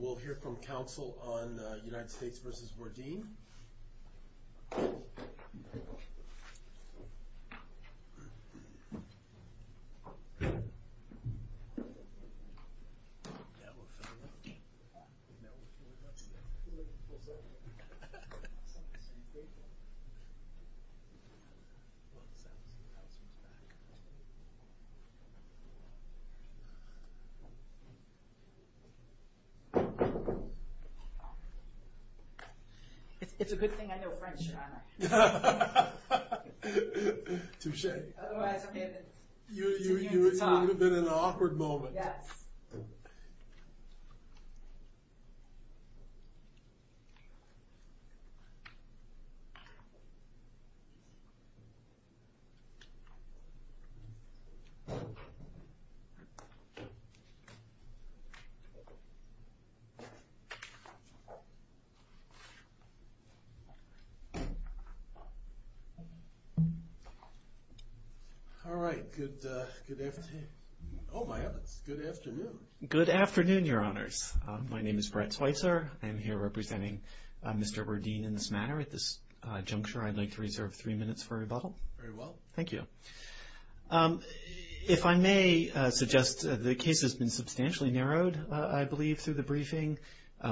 We'll hear from counsel on United States v. Werdene. It's a good thing I know French, John. Touche. Otherwise I'm going to continue to talk. You would have been in an awkward moment. Yes. All right. Good afternoon. Oh, my goodness. Good afternoon. Good afternoon, Your Honors. My name is Brett Schweitzer. I'm here representing Mr. Werdene in this manner at this juncture. I'd like to reserve three minutes for rebuttal. Very well. Thank you. If I may suggest, the case has been substantially narrowed, I believe, through the briefings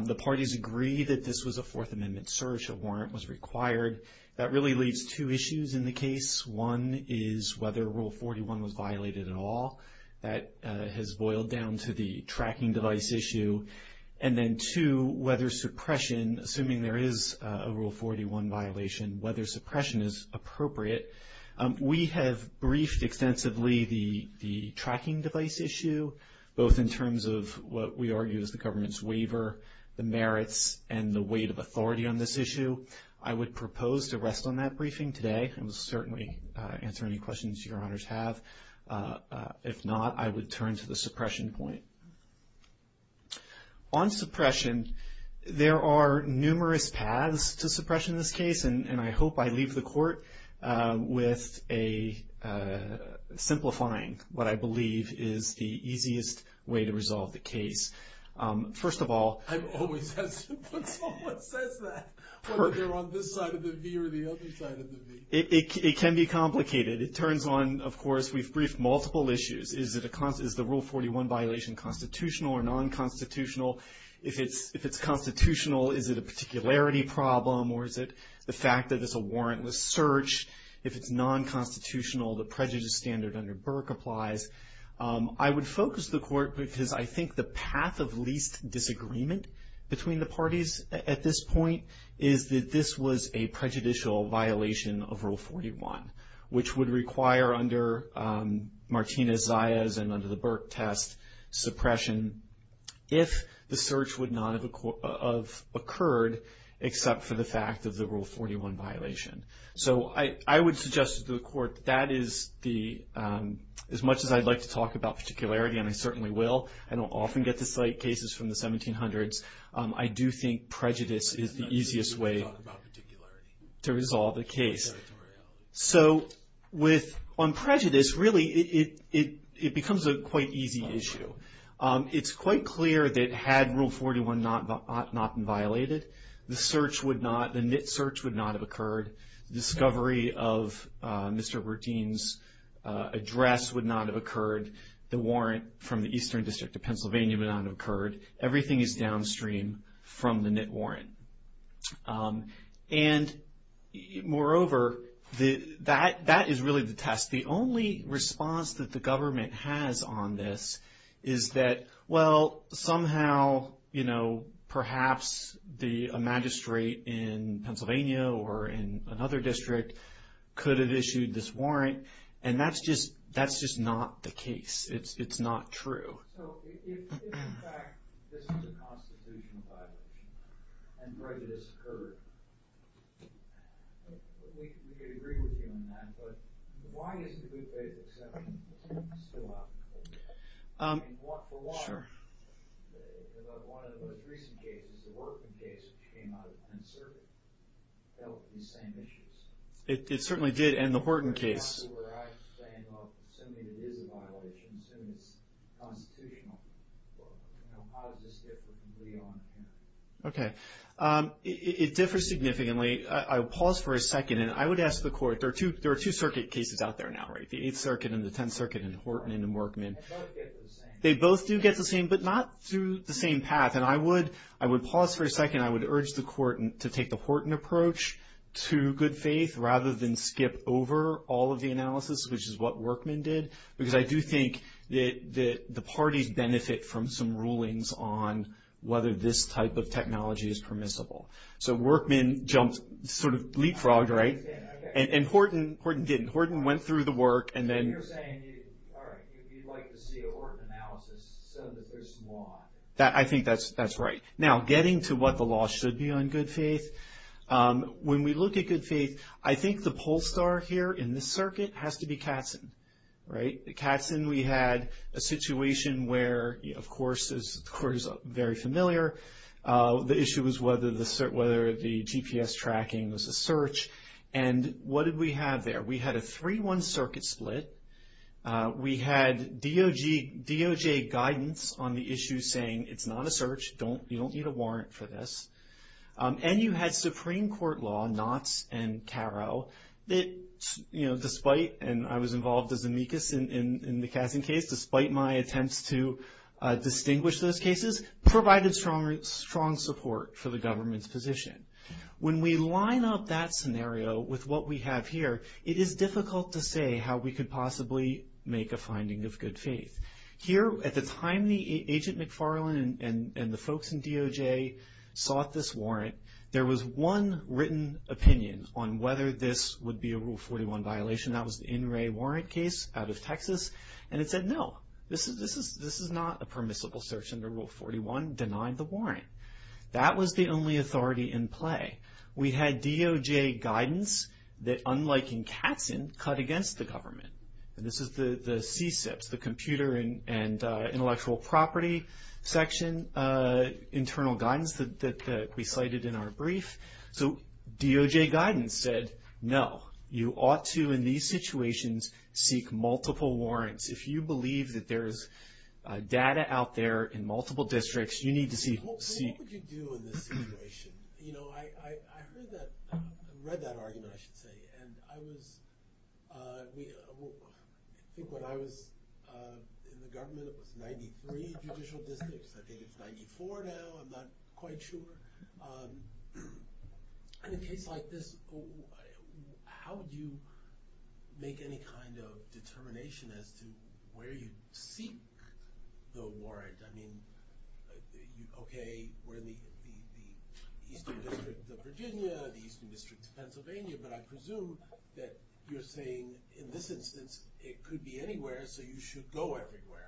The parties agree that this was a Fourth Amendment search. A warrant was required. That really leaves two issues in the case. One is whether Rule 41 was violated at all. That has boiled down to the tracking device issue. And then, two, whether suppression, assuming there is a Rule 41 violation, whether suppression is appropriate. We have briefed extensively the tracking device issue, both in terms of what we argue is the government's waiver, the merits, and the weight of authority on this issue. I would propose to rest on that briefing today. I will certainly answer any questions Your Honors have. If not, I would turn to the suppression point. And I hope I leave the court with a simplifying what I believe is the easiest way to resolve the case. First of all, I've always had some folks say that, whether they're on this side of the V or the other side of the V. It can be complicated. It turns on, of course, we've briefed multiple issues. Is the Rule 41 violation constitutional or non-constitutional? If it's constitutional, is it a particularity problem or is it the fact that it's a warrantless search? If it's non-constitutional, the prejudice standard under Burke applies. I would focus the court because I think the path of least disagreement between the parties at this point is that this was a prejudicial violation of Rule 41, which would require under Martinez-Zayas and under the Burke test suppression if the search would not have occurred, except for the fact of the Rule 41 violation. So I would suggest to the court that is the, as much as I'd like to talk about particularity, and I certainly will, and I'll often get to cite cases from the 1700s, I do think prejudice is the easiest way to resolve the case. So with, on prejudice, really it becomes a quite easy issue. It's quite clear that had Rule 41 not been violated, the search would not, the NIT search would not have occurred. The discovery of Mr. Bertine's address would not have occurred. The warrant from the Eastern District of Pennsylvania would not have occurred. Everything is downstream from the NIT warrant. And moreover, that is really the test. The only response that the government has on this is that, well, somehow, you know, perhaps a magistrate in Pennsylvania or in another district could have issued this warrant, and that's just not the case. It's not true. So if, in fact, this is a constitutional violation and prejudice occurred, we could agree with you on that, but why is the good faith exception still out there? For one, one of the most recent cases, the Wharton case, which came out of the 10th Circuit, dealt with these same issues. It certainly did, and the Wharton case. Well, assuming it is a violation, assuming it's constitutional, well, you know, how does this differ from Leon? Okay. It differs significantly. I'll pause for a second, and I would ask the Court. There are two circuit cases out there now, right, the 8th Circuit and the 10th Circuit and Wharton and the Morkman. They both get the same. They both do get the same, but not through the same path. And I would pause for a second. And I would urge the Court to take the Wharton approach to good faith rather than skip over all of the analysis, which is what Wharton did, because I do think that the parties benefit from some rulings on whether this type of technology is permissible. So Wharton jumped, sort of leapfrogged, right? And Wharton didn't. Wharton went through the work, and then. So you're saying, all right, you'd like to see a Wharton analysis so that there's some law. I think that's right. Now, getting to what the law should be on good faith, when we look at good faith, I think the poll star here in this circuit has to be Katzen, right? At Katzen we had a situation where, of course, the Court is very familiar. The issue was whether the GPS tracking was a search. And what did we have there? We had a 3-1 circuit split. We had DOJ guidance on the issue saying it's not a search. You don't need a warrant for this. And you had Supreme Court law, Knotts and Caro, that despite, and I was involved as amicus in the Katzen case, despite my attempts to distinguish those cases, provided strong support for the government's position. When we line up that scenario with what we have here, it is difficult to say how we could possibly make a finding of good faith. Here, at the time the Agent McFarlane and the folks in DOJ sought this warrant, there was one written opinion on whether this would be a Rule 41 violation. That was the In Re Warrant case out of Texas. And it said, no, this is not a permissible search under Rule 41. Denied the warrant. Denied. That was the only authority in play. We had DOJ guidance that, unlike in Katzen, cut against the government. And this is the CSIPs, the Computer and Intellectual Property section internal guidance that we cited in our brief. So DOJ guidance said, no, you ought to, in these situations, seek multiple warrants. If you believe that there is data out there in multiple districts, you need to seek. So what would you do in this situation? You know, I heard that, read that argument, I should say. And I was, I think when I was in the government, it was 93 judicial districts. I think it's 94 now. I'm not quite sure. In a case like this, how would you make any kind of determination as to where you seek the warrant? I mean, okay, we're in the Eastern District of Virginia, the Eastern District of Pennsylvania. But I presume that you're saying, in this instance, it could be anywhere. So you should go everywhere.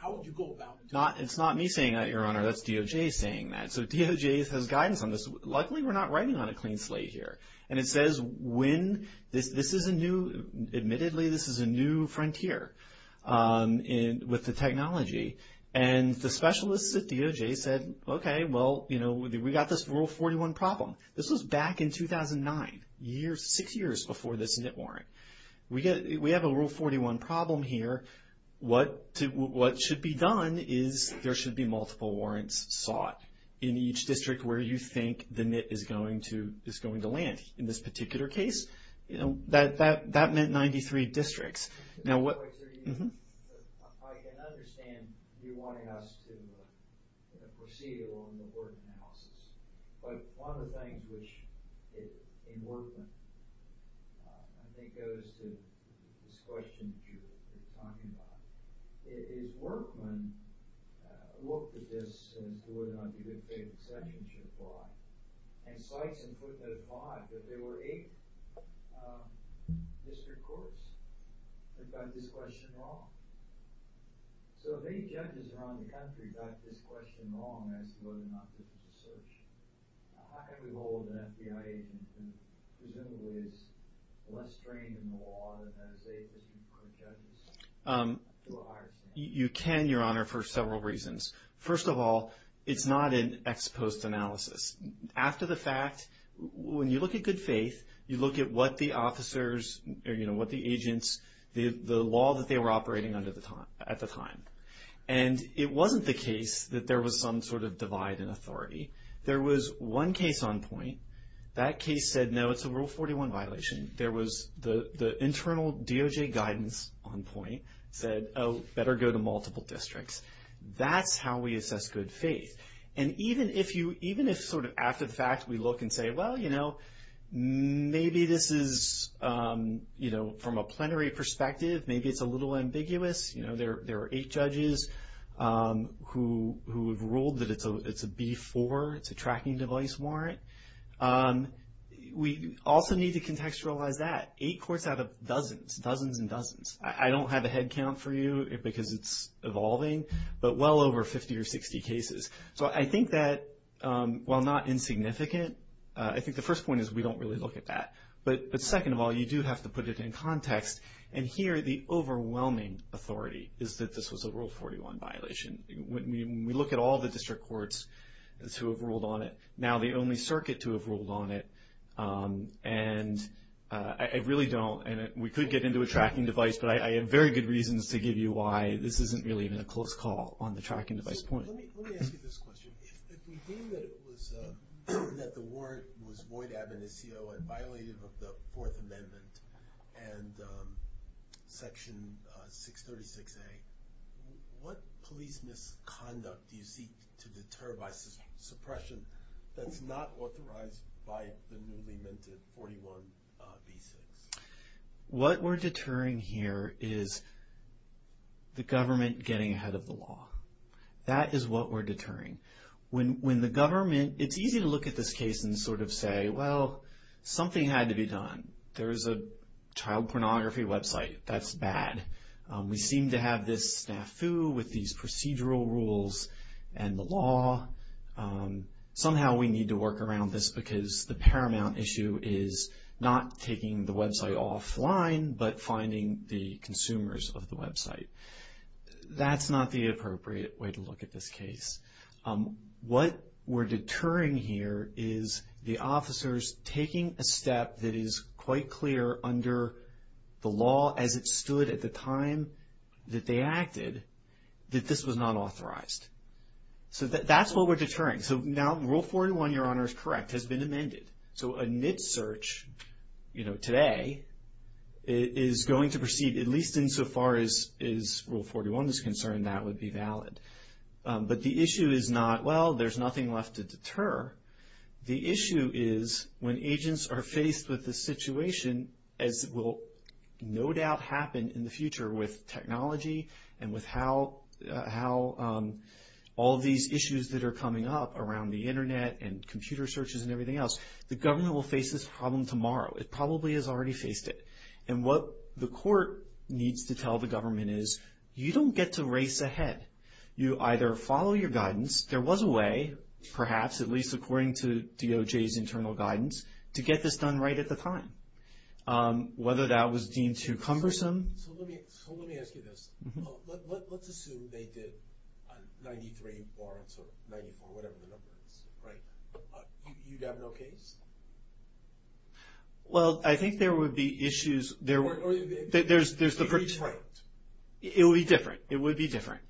How would you go about doing that? It's not me saying that, Your Honor. That's DOJ saying that. So DOJ has guidance on this. Luckily, we're not writing on a clean slate here. And it says when, this is a new, admittedly, this is a new frontier with the technology. And the specialists at DOJ said, okay, well, you know, we got this Rule 41 problem. This was back in 2009, six years before this NIT warrant. We have a Rule 41 problem here. What should be done is there should be multiple warrants sought in each district where you think the NIT is going to land. In this particular case, that meant 93 districts. Now what – I can understand you wanting us to proceed along the word analysis. But one of the things which, in Workman, I think goes to this question that you were talking about, is Workman looked at this as to whether or not the good faith exceptions should apply, and cites and put that upon that there were eight district courts that got this question wrong. So if eight judges around the country got this question wrong as to whether or not this was a search, how can we hold an FBI agent who presumably is less trained in the law than has eight district court judges to a higher standard? You can, Your Honor, for several reasons. First of all, it's not an ex post analysis. After the fact, when you look at good faith, you look at what the officers or, you know, what the agents – the law that they were operating under at the time. And it wasn't the case that there was some sort of divide in authority. There was one case on point. That case said, no, it's a Rule 41 violation. There was the internal DOJ guidance on point said, oh, better go to multiple districts. That's how we assess good faith. And even if you – even if sort of after the fact we look and say, well, you know, maybe this is, you know, from a plenary perspective, maybe it's a little ambiguous. You know, there are eight judges who have ruled that it's a B4, it's a tracking device warrant. We also need to contextualize that. Eight courts out of dozens, dozens and dozens. I don't have a head count for you because it's evolving, but well over 50 or 60 cases. So I think that while not insignificant, I think the first point is we don't really look at that. But second of all, you do have to put it in context. And here the overwhelming authority is that this was a Rule 41 violation. When we look at all the district courts who have ruled on it, now the only circuit to have ruled on it, and I really don't – and we could get into a tracking device, but I have very good reasons to give you why this isn't really even a close call on the tracking device point. Let me ask you this question. If we deem that it was – that the warrant was void ad minisio and violated of the Fourth Amendment and Section 636A, what police misconduct do you seek to deter by suppression that's not authorized by the newly minted 41B6? What we're deterring here is the government getting ahead of the law. That is what we're deterring. When the government – it's easy to look at this case and sort of say, well, something had to be done. There's a child pornography website. That's bad. We seem to have this snafu with these procedural rules and the law. Somehow we need to work around this because the paramount issue is not taking the website offline but finding the consumers of the website. That's not the appropriate way to look at this case. What we're deterring here is the officers taking a step that is quite clear under the law as it stood at the time that they acted that this was not authorized. So that's what we're deterring. So now Rule 41, Your Honor, is correct, has been amended. So a NIT search, you know, today is going to proceed, at least insofar as Rule 41 is concerned, that would be valid. But the issue is not, well, there's nothing left to deter. The issue is when agents are faced with this situation, as will no doubt happen in the future with technology and with how all of these issues that are coming up around the Internet and computer searches and everything else, the government will face this problem tomorrow. It probably has already faced it. And what the court needs to tell the government is you don't get to race ahead. You either follow your guidance. There was a way, perhaps, at least according to DOJ's internal guidance, to get this done right at the time. Whether that was deemed too cumbersome. So let me ask you this. Let's assume they did 93 warrants or 94, whatever the number is, right? You'd have no case? Well, I think there would be issues. Or it would be different. It would be different. It would be different.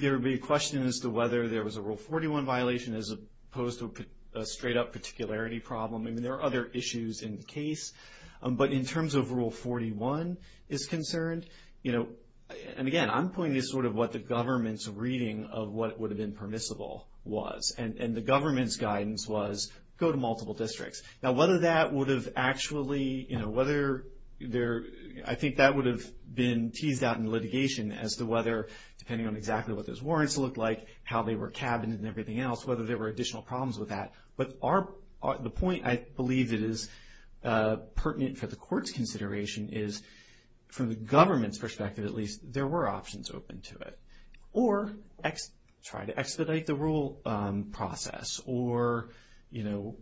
There would be a question as to whether there was a Rule 41 violation as opposed to a straight-up particularity problem. I mean, there are other issues in the case. But in terms of Rule 41 is concerned, you know, and, again, I'm pointing to sort of what the government's reading of what would have been permissible was. And the government's guidance was go to multiple districts. Now, whether that would have actually, you know, whether there – I think that would have been teased out in litigation as to whether, depending on exactly what those warrants looked like, how they were cabined and everything else, whether there were additional problems with that. But the point I believe that is pertinent for the court's consideration is, from the government's perspective at least, there were options open to it. Or try to expedite the rule process. Or, you know,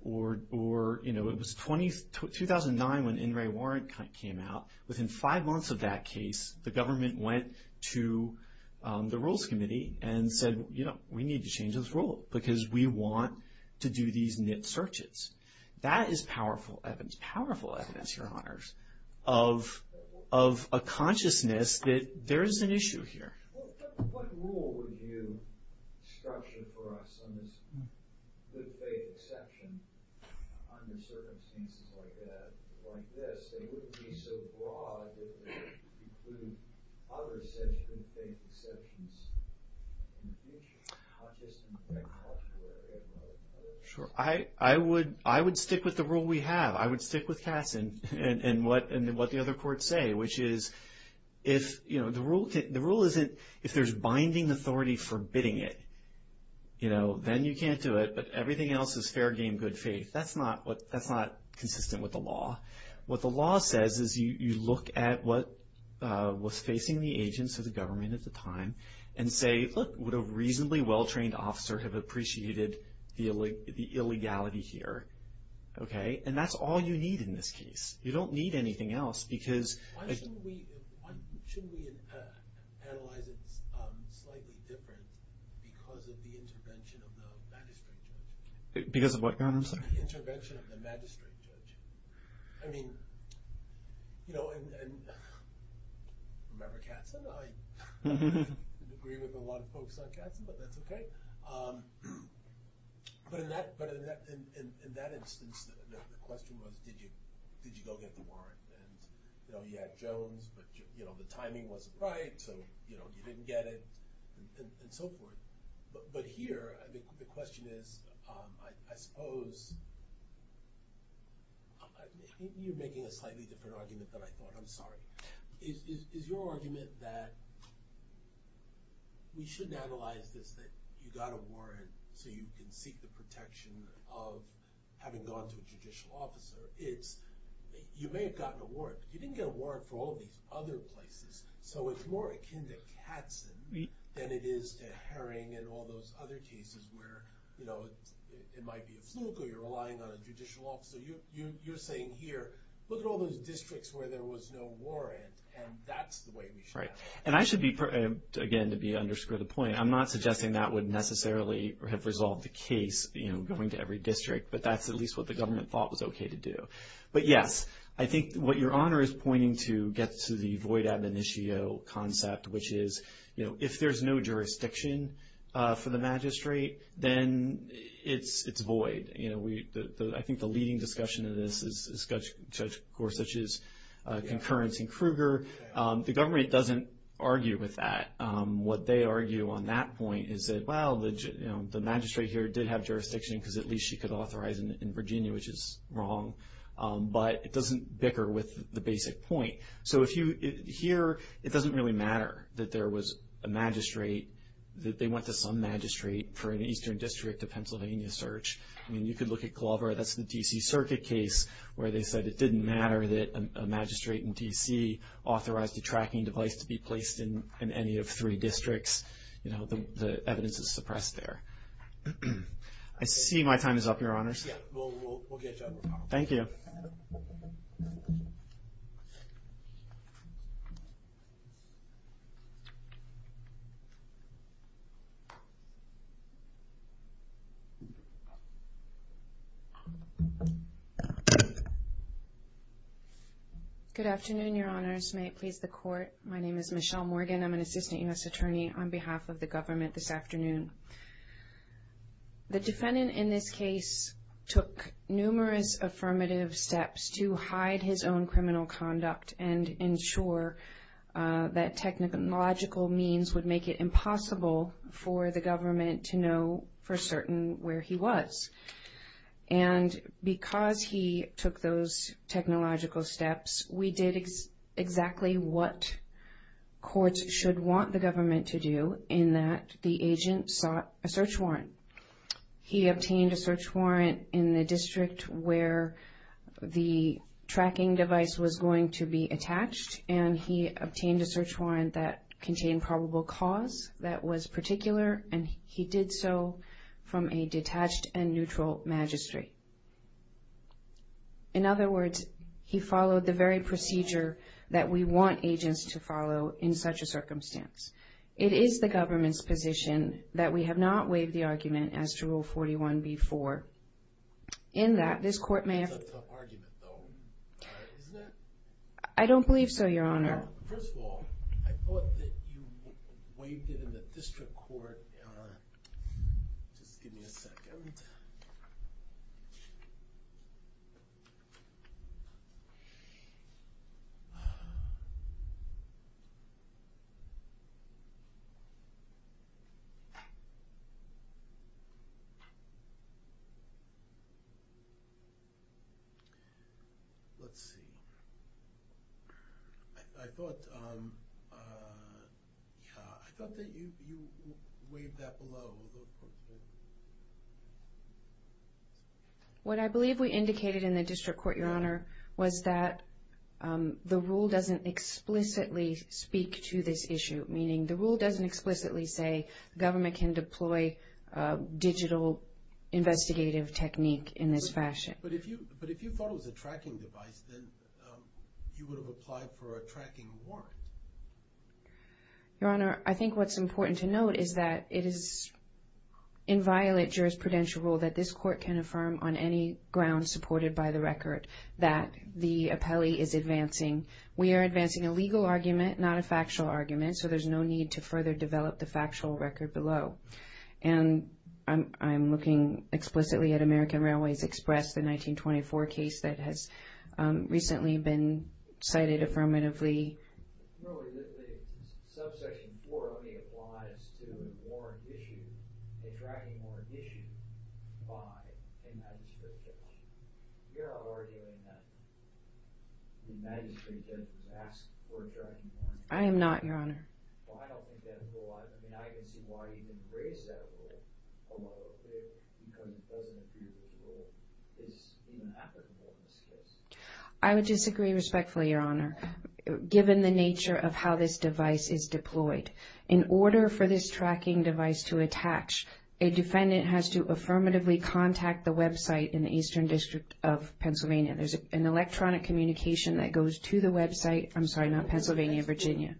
it was 2009 when NRA warrant came out. Within five months of that case, the government went to the Rules Committee and said, you know, we need to change this rule because we want to do these NIT searches. That is powerful evidence, powerful evidence, Your Honors, of a consciousness that there is an issue here. Well, what rule would you structure for us on this good faith exception under circumstances like that, like this, that wouldn't be so broad if it included other such good faith exceptions in the future? Not just in the federal law, but everywhere. Sure. I would stick with the rule we have. I would stick with Cass and what the other courts say, which is, if, you know, the rule isn't, if there's binding authority forbidding it, you know, then you can't do it. But everything else is fair game, good faith. That's not consistent with the law. What the law says is you look at what was facing the agents of the government at the time and say, look, would a reasonably well-trained officer have appreciated the illegality here? Okay? And that's all you need in this case. You don't need anything else because- Why shouldn't we analyze it slightly different because of the intervention of the magistrate judge? Because of what, Your Honor? The intervention of the magistrate judge. I mean, you know, and remember Katzen? I didn't agree with a lot of folks on Katzen, but that's okay. But in that instance, the question was, did you go get the warrant? And, you know, you had Jones, but, you know, the timing wasn't right, so, you know, you didn't get it, and so forth. But here, the question is, I suppose, you're making a slightly different argument than I thought. I'm sorry. Is your argument that we shouldn't analyze this, that you got a warrant so you can seek the protection of having gone to a judicial officer? It's, you may have gotten a warrant, but you didn't get a warrant for all these other places. So it's more akin to Katzen than it is to Herring and all those other cases where, you know, it might be a fluke or you're relying on a judicial officer. So you're saying here, look at all those districts where there was no warrant, and that's the way we should have it. Right. And I should be, again, to underscore the point, I'm not suggesting that would necessarily have resolved the case, you know, going to every district, but that's at least what the government thought was okay to do. But, yes, I think what your Honor is pointing to gets to the void ad minitio concept, which is, you know, if there's no jurisdiction for the magistrate, then it's void. You know, I think the leading discussion in this is Judge Gorsuch's concurrence in Kruger. The government doesn't argue with that. What they argue on that point is that, well, the magistrate here did have jurisdiction because at least she could authorize in Virginia, which is wrong. But it doesn't bicker with the basic point. So if you, here, it doesn't really matter that there was a magistrate, that they went to some magistrate for an eastern district of Pennsylvania search. I mean, you could look at Clover. That's the D.C. Circuit case where they said it didn't matter that a magistrate in D.C. authorized a tracking device to be placed in any of three districts. You know, the evidence is suppressed there. I see my time is up, Your Honors. We'll get you up. Thank you. Good afternoon, Your Honors. May it please the Court. My name is Michelle Morgan. I'm an assistant U.S. attorney on behalf of the government this afternoon. The defendant in this case took numerous affirmative steps to hide his own criminal conduct and ensure that technological means would make it impossible for the government to know for certain where he was. And because he took those technological steps, we did exactly what courts should want the government to do in that the agent sought a search warrant. He obtained a search warrant in the district where the tracking device was going to be attached, and he obtained a search warrant that contained probable cause that was particular, and he did so from a detached and neutral magistrate. In other words, he followed the very procedure that we want agents to follow in such a circumstance. It is the government's position that we have not waived the argument as to Rule 41b-4. In that, this Court may have... That's a tough argument, though, isn't it? I don't believe so, Your Honor. First of all, I thought that you waived it in the district court. Just give me a second. Let's see. I thought that you waived that below. What I believe we indicated in the district court, Your Honor, was that the rule doesn't explicitly speak to this issue, meaning the rule doesn't explicitly say government can deploy digital investigative technique in this fashion. But if you thought it was a tracking device, then you would have applied for a tracking warrant. Your Honor, I think what's important to note is that it is in violent jurisprudential rule that this Court can affirm on any ground supported by the record that the appellee is advancing. We are advancing a legal argument, not a factual argument, so there's no need to further develop the factual record below. And I'm looking explicitly at American Railways Express, the 1924 case that has recently been cited affirmatively. I am not, Your Honor. Okay. I would disagree respectfully, Your Honor, given the nature of how this device is deployed. In order for this tracking device to attach, a defendant has to affirmatively contact the website in the Eastern District of Pennsylvania. There's an electronic communication that goes to the website from, sorry, not Pennsylvania, Virginia.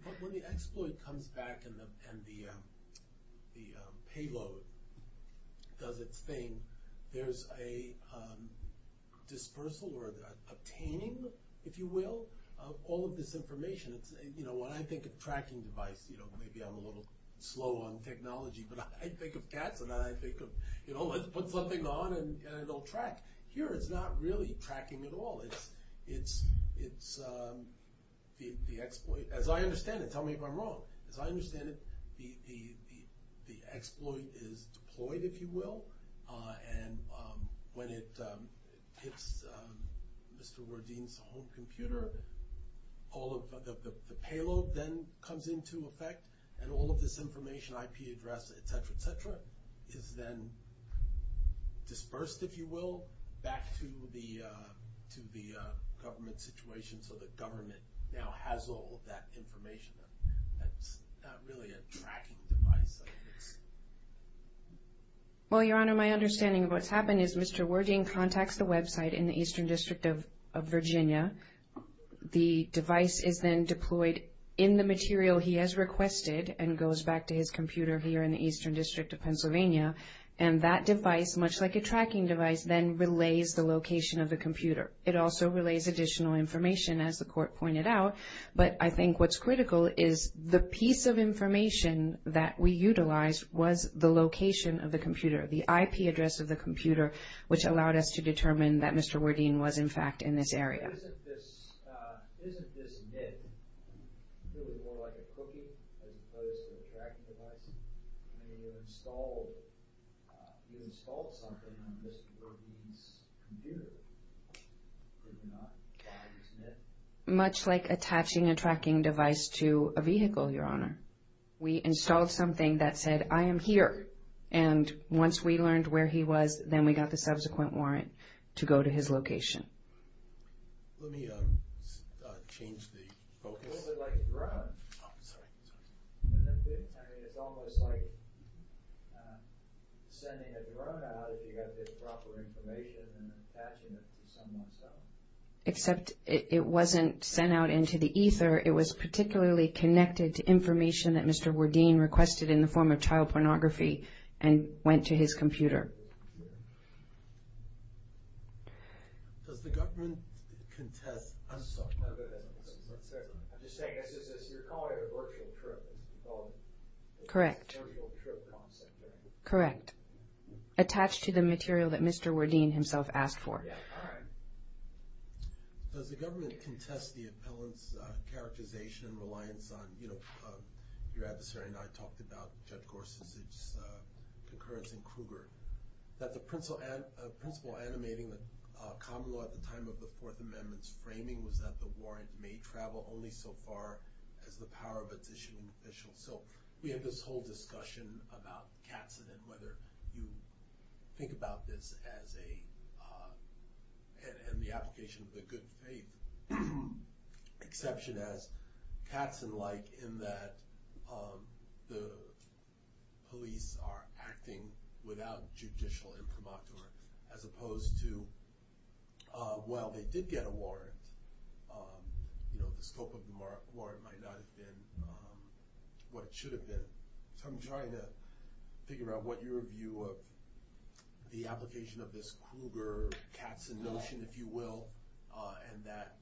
Payload does its thing. There's a dispersal or obtaining, if you will, of all of this information. You know, when I think of tracking device, you know, maybe I'm a little slow on technology, but I think of cats and I think of, you know, let's put something on and it'll track. Here it's not really tracking at all. It's the exploit. As I understand it, tell me if I'm wrong. As I understand it, the exploit is deployed, if you will, and when it hits Mr. Wardeen's home computer, the payload then comes into effect, and all of this information, IP address, et cetera, et cetera, is then dispersed, if you will, back to the government situation so the government now has all of that information. That's not really a tracking device. Well, Your Honor, my understanding of what's happened is Mr. Wardeen contacts the website in the Eastern District of Virginia. The device is then deployed in the material he has requested and goes back to his computer here in the Eastern District of Pennsylvania, and that device, much like a tracking device, then relays the location of the computer. It also relays additional information, as the Court pointed out, but I think what's critical is the piece of information that we utilized was the location of the computer, the IP address of the computer, which allowed us to determine that Mr. Wardeen was, in fact, in this area. Isn't this NIP really more like a cookie as opposed to a tracking device? I mean, you installed something on Mr. Wardeen's computer, but you're not using it. Much like attaching a tracking device to a vehicle, Your Honor. We installed something that said, I am here, and once we learned where he was, then we got the subsequent warrant to go to his location. Let me change the focus. It's a little bit like a drone. I mean, it's almost like sending a drone out if you've got the proper information and attaching it to someone's phone. Except it wasn't sent out into the ether. It was particularly connected to information that Mr. Wardeen requested in the form of child pornography and went to his computer. Does the government contest... I'm sorry. I'm just saying, you're calling it a virtual trip. Correct. Correct. Attached to the material that Mr. Wardeen himself asked for. All right. Does the government contest the appellant's characterization and reliance on, you know, your adversary and I talked about Judge Gorsuch's concurrence in Kruger. That the principle animating the common law at the time of the Fourth Amendment's framing was that the warrant may travel only so far as the power of its issuing official. So we have this whole discussion about Katzen and whether you think about this as a... and the application of the good faith exception as Katzen-like in that the police are acting without judicial imprimatur as opposed to, well, they did get a warrant. You know, the scope of the warrant might not have been what it should have been. So I'm trying to figure out what your view of the application of this Kruger-Katzen notion, if you will, and that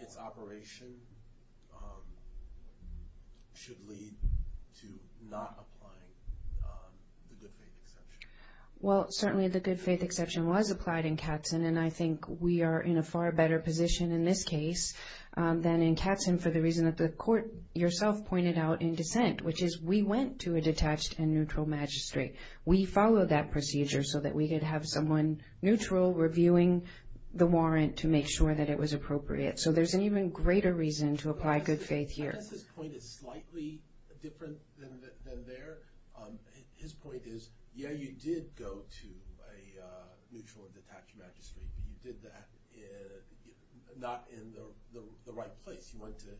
its operation should lead to not applying the good faith exception. Well, certainly the good faith exception was applied in Katzen and I think we are in a far better position in this case than in Katzen for the reason that the court yourself pointed out in dissent, which is we went to a detached and neutral magistrate. We followed that procedure so that we could have someone neutral reviewing the warrant to make sure that it was appropriate. So there's an even greater reason to apply good faith here. I guess his point is slightly different than theirs. His point is, yeah, you did go to a neutral and detached magistrate, but you did that not in the right place. You went to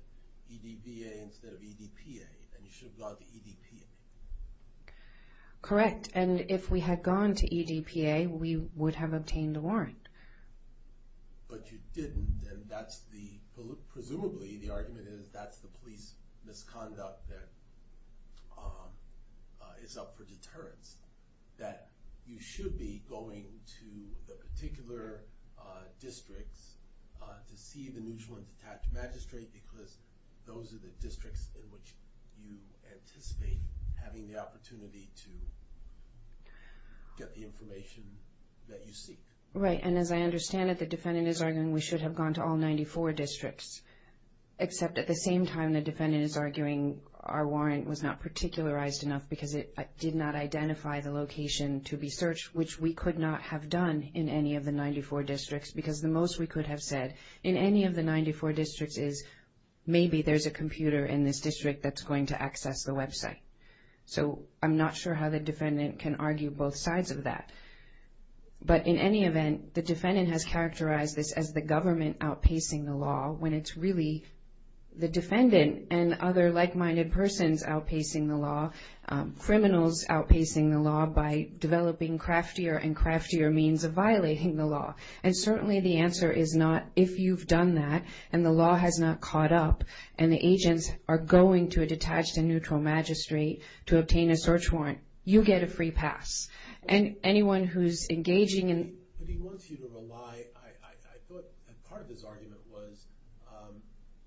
EDBA instead of EDPA and you should have gone to EDPA. Correct, and if we had gone to EDPA, we would have obtained a warrant. But you didn't, and presumably the argument is that's the police misconduct that is up for deterrence, that you should be going to the particular districts to see the neutral and detached magistrate because those are the districts in which you anticipate having the opportunity to get the information that you seek. Right, and as I understand it, the defendant is arguing we should have gone to all 94 districts, except at the same time the defendant is arguing our warrant was not particularized enough because it did not identify the location to be searched, which we could not have done in any of the 94 districts because the most we could have said in any of the 94 districts is maybe there's a computer in this district that's going to access the website. So I'm not sure how the defendant can argue both sides of that. But in any event, the defendant has characterized this as the government outpacing the law when it's really the defendant and other like-minded persons outpacing the law, criminals outpacing the law by developing craftier and craftier means of violating the law. And certainly the answer is not if you've done that and the law has not caught up and the agents are going to a detached and neutral magistrate to obtain a search warrant, you get a free pass. And anyone who's engaging in... But he wants you to rely, I thought part of his argument was,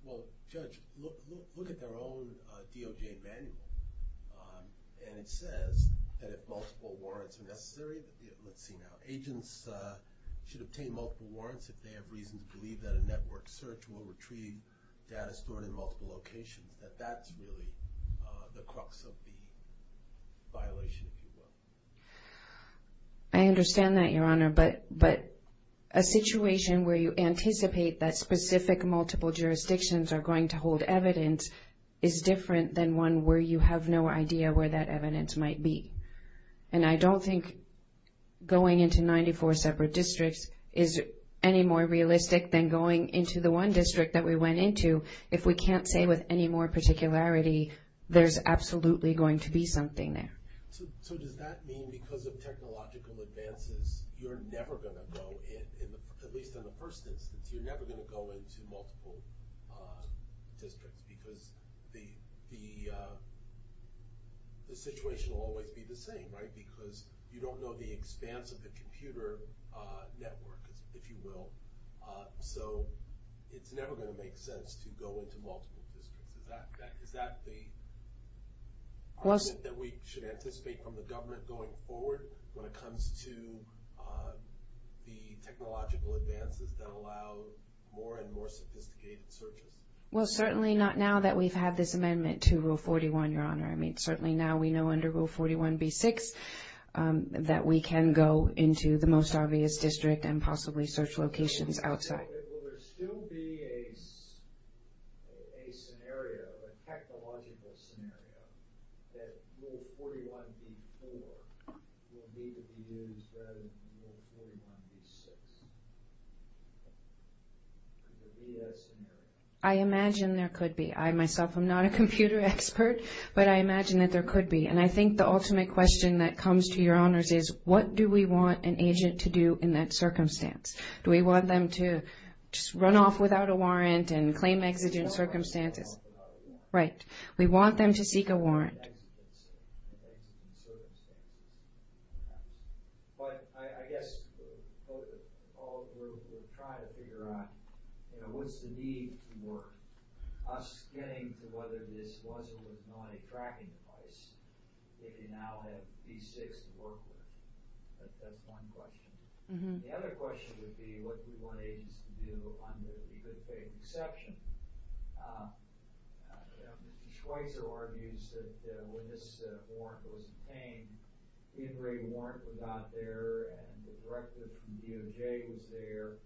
well, Judge, look at their own DOJ manual. And it says that if multiple warrants are necessary, let's see now, agents should obtain multiple warrants if they have reason to believe that a network search will retrieve data stored in multiple locations, that that's really the crux of the violation, if you will. I understand that, Your Honor. But a situation where you anticipate that specific multiple jurisdictions are going to hold evidence is different than one where you have no idea where that evidence might be. And I don't think going into 94 separate districts is any more realistic than going into the one district that we went into. If we can't say with any more particularity, there's absolutely going to be something there. So does that mean because of technological advances, you're never going to go in, at least in the first instance, you're never going to go into multiple districts because the situation will always be the same, right? Because you don't know the expanse of the computer network, if you will. So it's never going to make sense to go into multiple districts. Is that the argument that we should anticipate from the government going forward when it comes to the technological advances that allow more and more sophisticated searches? Well, certainly not now that we've had this amendment to Rule 41, Your Honor. I mean, certainly now we know under Rule 41b-6 that we can go into the most obvious district and possibly search locations outside. Will there still be a scenario, a technological scenario, that Rule 41b-4 will need to be used rather than Rule 41b-6? I imagine there could be. I myself am not a computer expert, but I imagine that there could be. And I think the ultimate question that comes to Your Honors is, what do we want an agent to do in that circumstance? Do we want them to just run off without a warrant and claim exigent circumstances? Right. We want them to seek a warrant. But I guess we'll try to figure out, you know, what's the need to work? Us getting to whether this was or was not a tracking device, if you now have B6 to work with. That's one question. The other question would be, what do we want agents to do under the good faith exception? Mr. Schweitzer argues that when this warrant was obtained, the engraved warrant was out there and the directive from DOJ was there,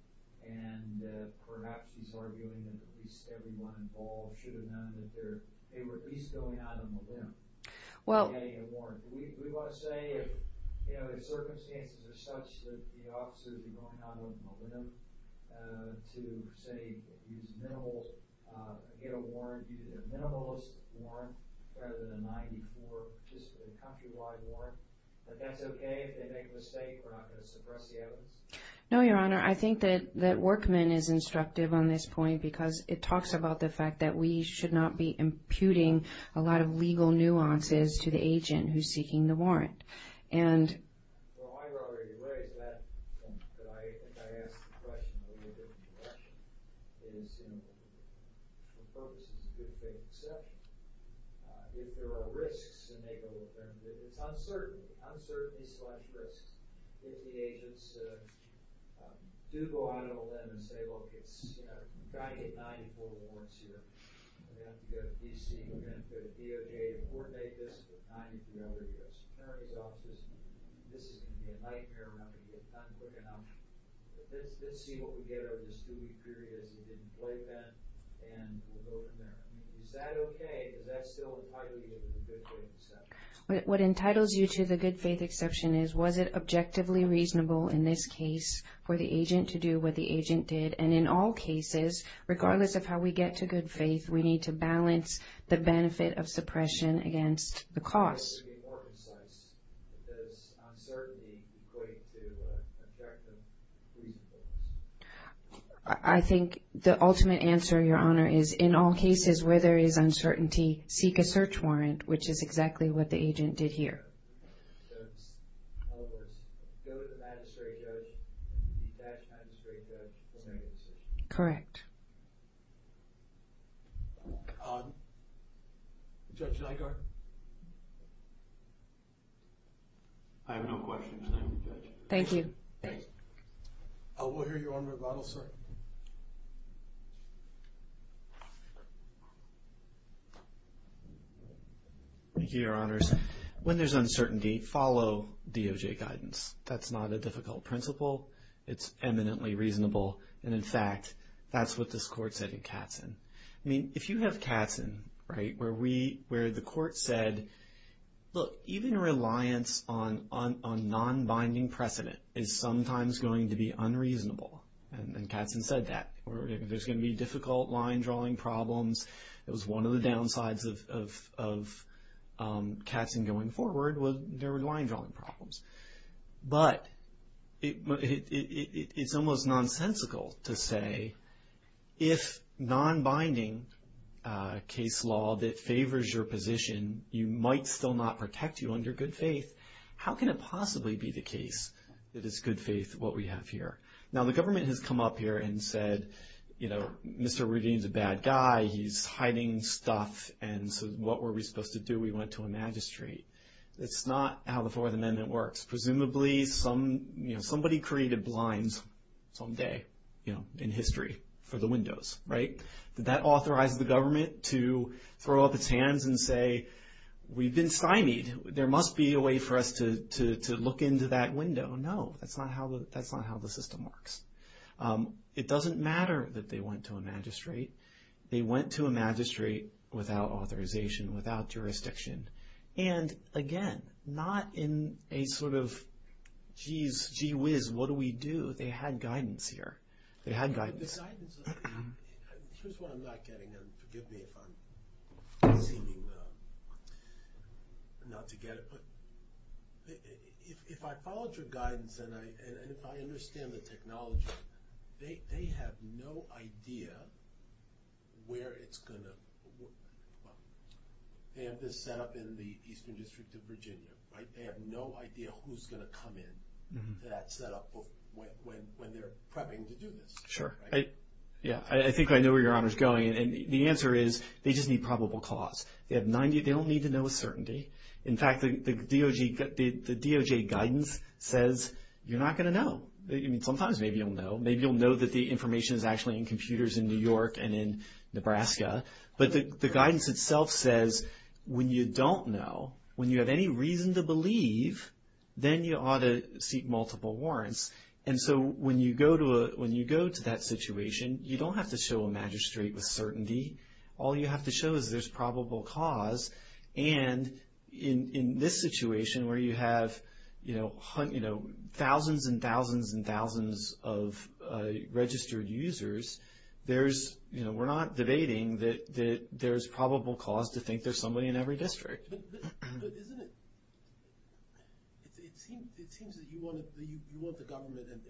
and perhaps he's arguing that at least everyone involved should have known that they were at least going out on a limb in getting a warrant. We want to say if circumstances are such that the officers are going out on a limb to, say, get a minimalist warrant rather than a 94, just a countrywide warrant, that that's okay if they make a mistake? We're not going to suppress the evidence? No, Your Honor. I think that Workman is instructive on this point because it talks about the fact that we should not be imputing a lot of legal nuances to the agent who's seeking the warrant. Well, I've already raised that point, but I think I asked the question in a different direction. The focus is the good faith exception. If there are risks, it's uncertainty. Uncertainty slash risks. If the agents do go out on a limb and say, We've got to get 94 warrants here. We're going to have to go to D.C. We're going to have to go to DOJ to coordinate this. We're going to have to go to the other U.S. Attorney's offices. This is going to be a nightmare. We're not going to get it done quick enough. Let's see what we get over this two-week period as it didn't play then, and we'll go from there. Is that okay? Is that still a good faith exception? What entitles you to the good faith exception is was it objectively reasonable in this case for the agent to do what the agent did? And in all cases, regardless of how we get to good faith, we need to balance the benefit of suppression against the cost. It has to be more concise. Is uncertainty going to affect the reason for this? I think the ultimate answer, Your Honor, is in all cases where there is uncertainty, seek a search warrant, which is exactly what the agent did here. So in other words, go to the magistrate judge, detach the magistrate judge, and make a decision? Correct. Judge Nygaard? I have no questions. We'll hear Your Honor's rebuttal, sir. Thank you, Your Honors. When there's uncertainty, follow DOJ guidance. That's not a difficult principle. It's eminently reasonable, and in fact, that's what this court said in Katzen. I mean, if you have Katzen, right, where the court said, look, even reliance on non-binding precedent is sometimes going to be unreasonable, and Katzen said that. There's going to be difficult line-drawing problems. It was one of the downsides of Katzen going forward was there were line-drawing problems. But it's almost nonsensical to say if non-binding case law that favors your position, you might still not protect you under good faith. How can it possibly be the case that it's good faith what we have here? Now, the government has come up here and said, you know, Mr. Rudine's a bad guy. He's hiding stuff, and so what were we supposed to do? We went to a magistrate. That's not how the Fourth Amendment works. Presumably somebody created blinds someday, you know, in history for the windows, right? Did that authorize the government to throw up its hands and say, we've been symied. There must be a way for us to look into that window. No, that's not how the system works. It doesn't matter that they went to a magistrate. They went to a magistrate without authorization, without jurisdiction. And, again, not in a sort of, geez, gee whiz, what do we do? They had guidance here. They had guidance. Here's what I'm not getting, and forgive me if I'm seeming not to get it, but if I followed your guidance and if I understand the technology, they have no idea where it's going to, well, they have this set up in the Eastern District of Virginia, right? They have no idea who's going to come in to that set up when they're prepping to do this. Sure. Yeah, I think I know where your honor's going. And the answer is they just need probable cause. They don't need to know a certainty. In fact, the DOJ guidance says you're not going to know. I mean, sometimes maybe you'll know. Maybe you'll know that the information is actually in computers in New York and in Nebraska. But the guidance itself says when you don't know, when you have any reason to believe, then you ought to seek multiple warrants. And so when you go to that situation, you don't have to show a magistrate with certainty. All you have to show is there's probable cause. And in this situation where you have thousands and thousands and thousands of registered users, we're not debating that there's probable cause to think there's somebody in every district. But isn't it, it seems that you want the government, and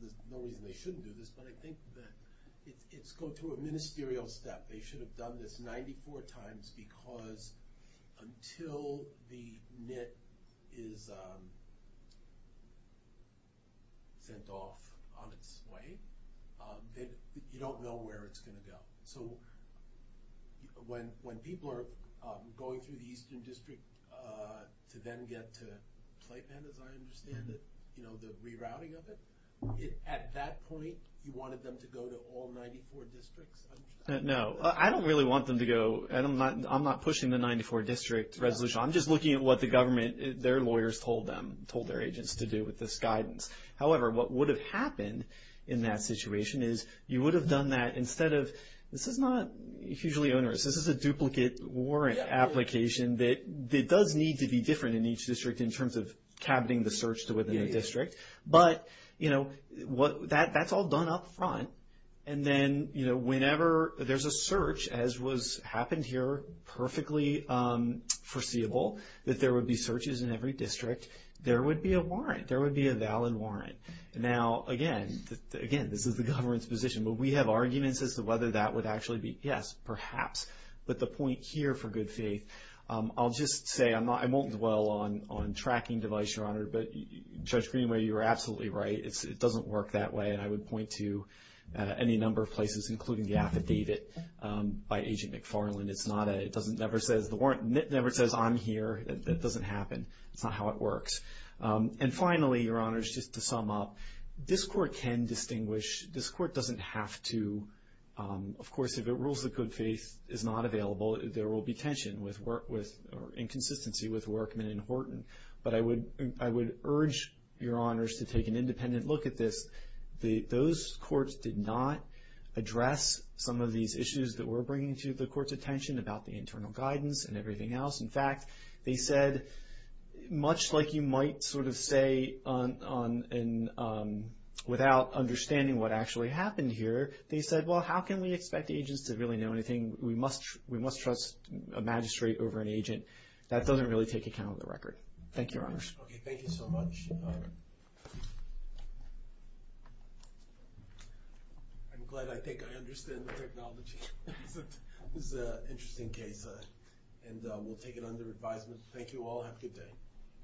there's no reason they shouldn't do this, but I think that it's going through a ministerial step. They should have done this 94 times because until the NIT is sent off on its way, you don't know where it's going to go. So when people are going through the Eastern District to then get to Clayton, as I understand it, you know, the rerouting of it, at that point you wanted them to go to all 94 districts? No, I don't really want them to go. I'm not pushing the 94 district resolution. I'm just looking at what the government, their lawyers told them, told their agents to do with this guidance. However, what would have happened in that situation is you would have done that instead of, this is not hugely onerous. This is a duplicate warrant application that does need to be different in each district in terms of cabining the search to within a district. But, you know, that's all done up front. And then, you know, whenever there's a search, as happened here, perfectly foreseeable, that there would be searches in every district, there would be a warrant. Now, again, this is the government's position, but we have arguments as to whether that would actually be, yes, perhaps. But the point here, for good faith, I'll just say, I won't dwell on tracking device, Your Honor, but Judge Greenway, you're absolutely right. It doesn't work that way, and I would point to any number of places, including the affidavit by Agent McFarland. It's not a, it never says, the warrant never says, I'm here. That doesn't happen. That's not how it works. And finally, Your Honors, just to sum up, this court can distinguish. This court doesn't have to. Of course, if it rules that good faith is not available, there will be tension or inconsistency with Workman and Horton. But I would urge Your Honors to take an independent look at this. Those courts did not address some of these issues that we're bringing to the court's attention about the internal guidance and everything else. In fact, they said, much like you might sort of say without understanding what actually happened here, they said, well, how can we expect agents to really know anything? We must trust a magistrate over an agent. That doesn't really take account of the record. Thank you, Your Honors. Okay, thank you so much. I'm glad I think I understand the technology. This is an interesting case, and we'll take it under advisement. Thank you all. Have a good day.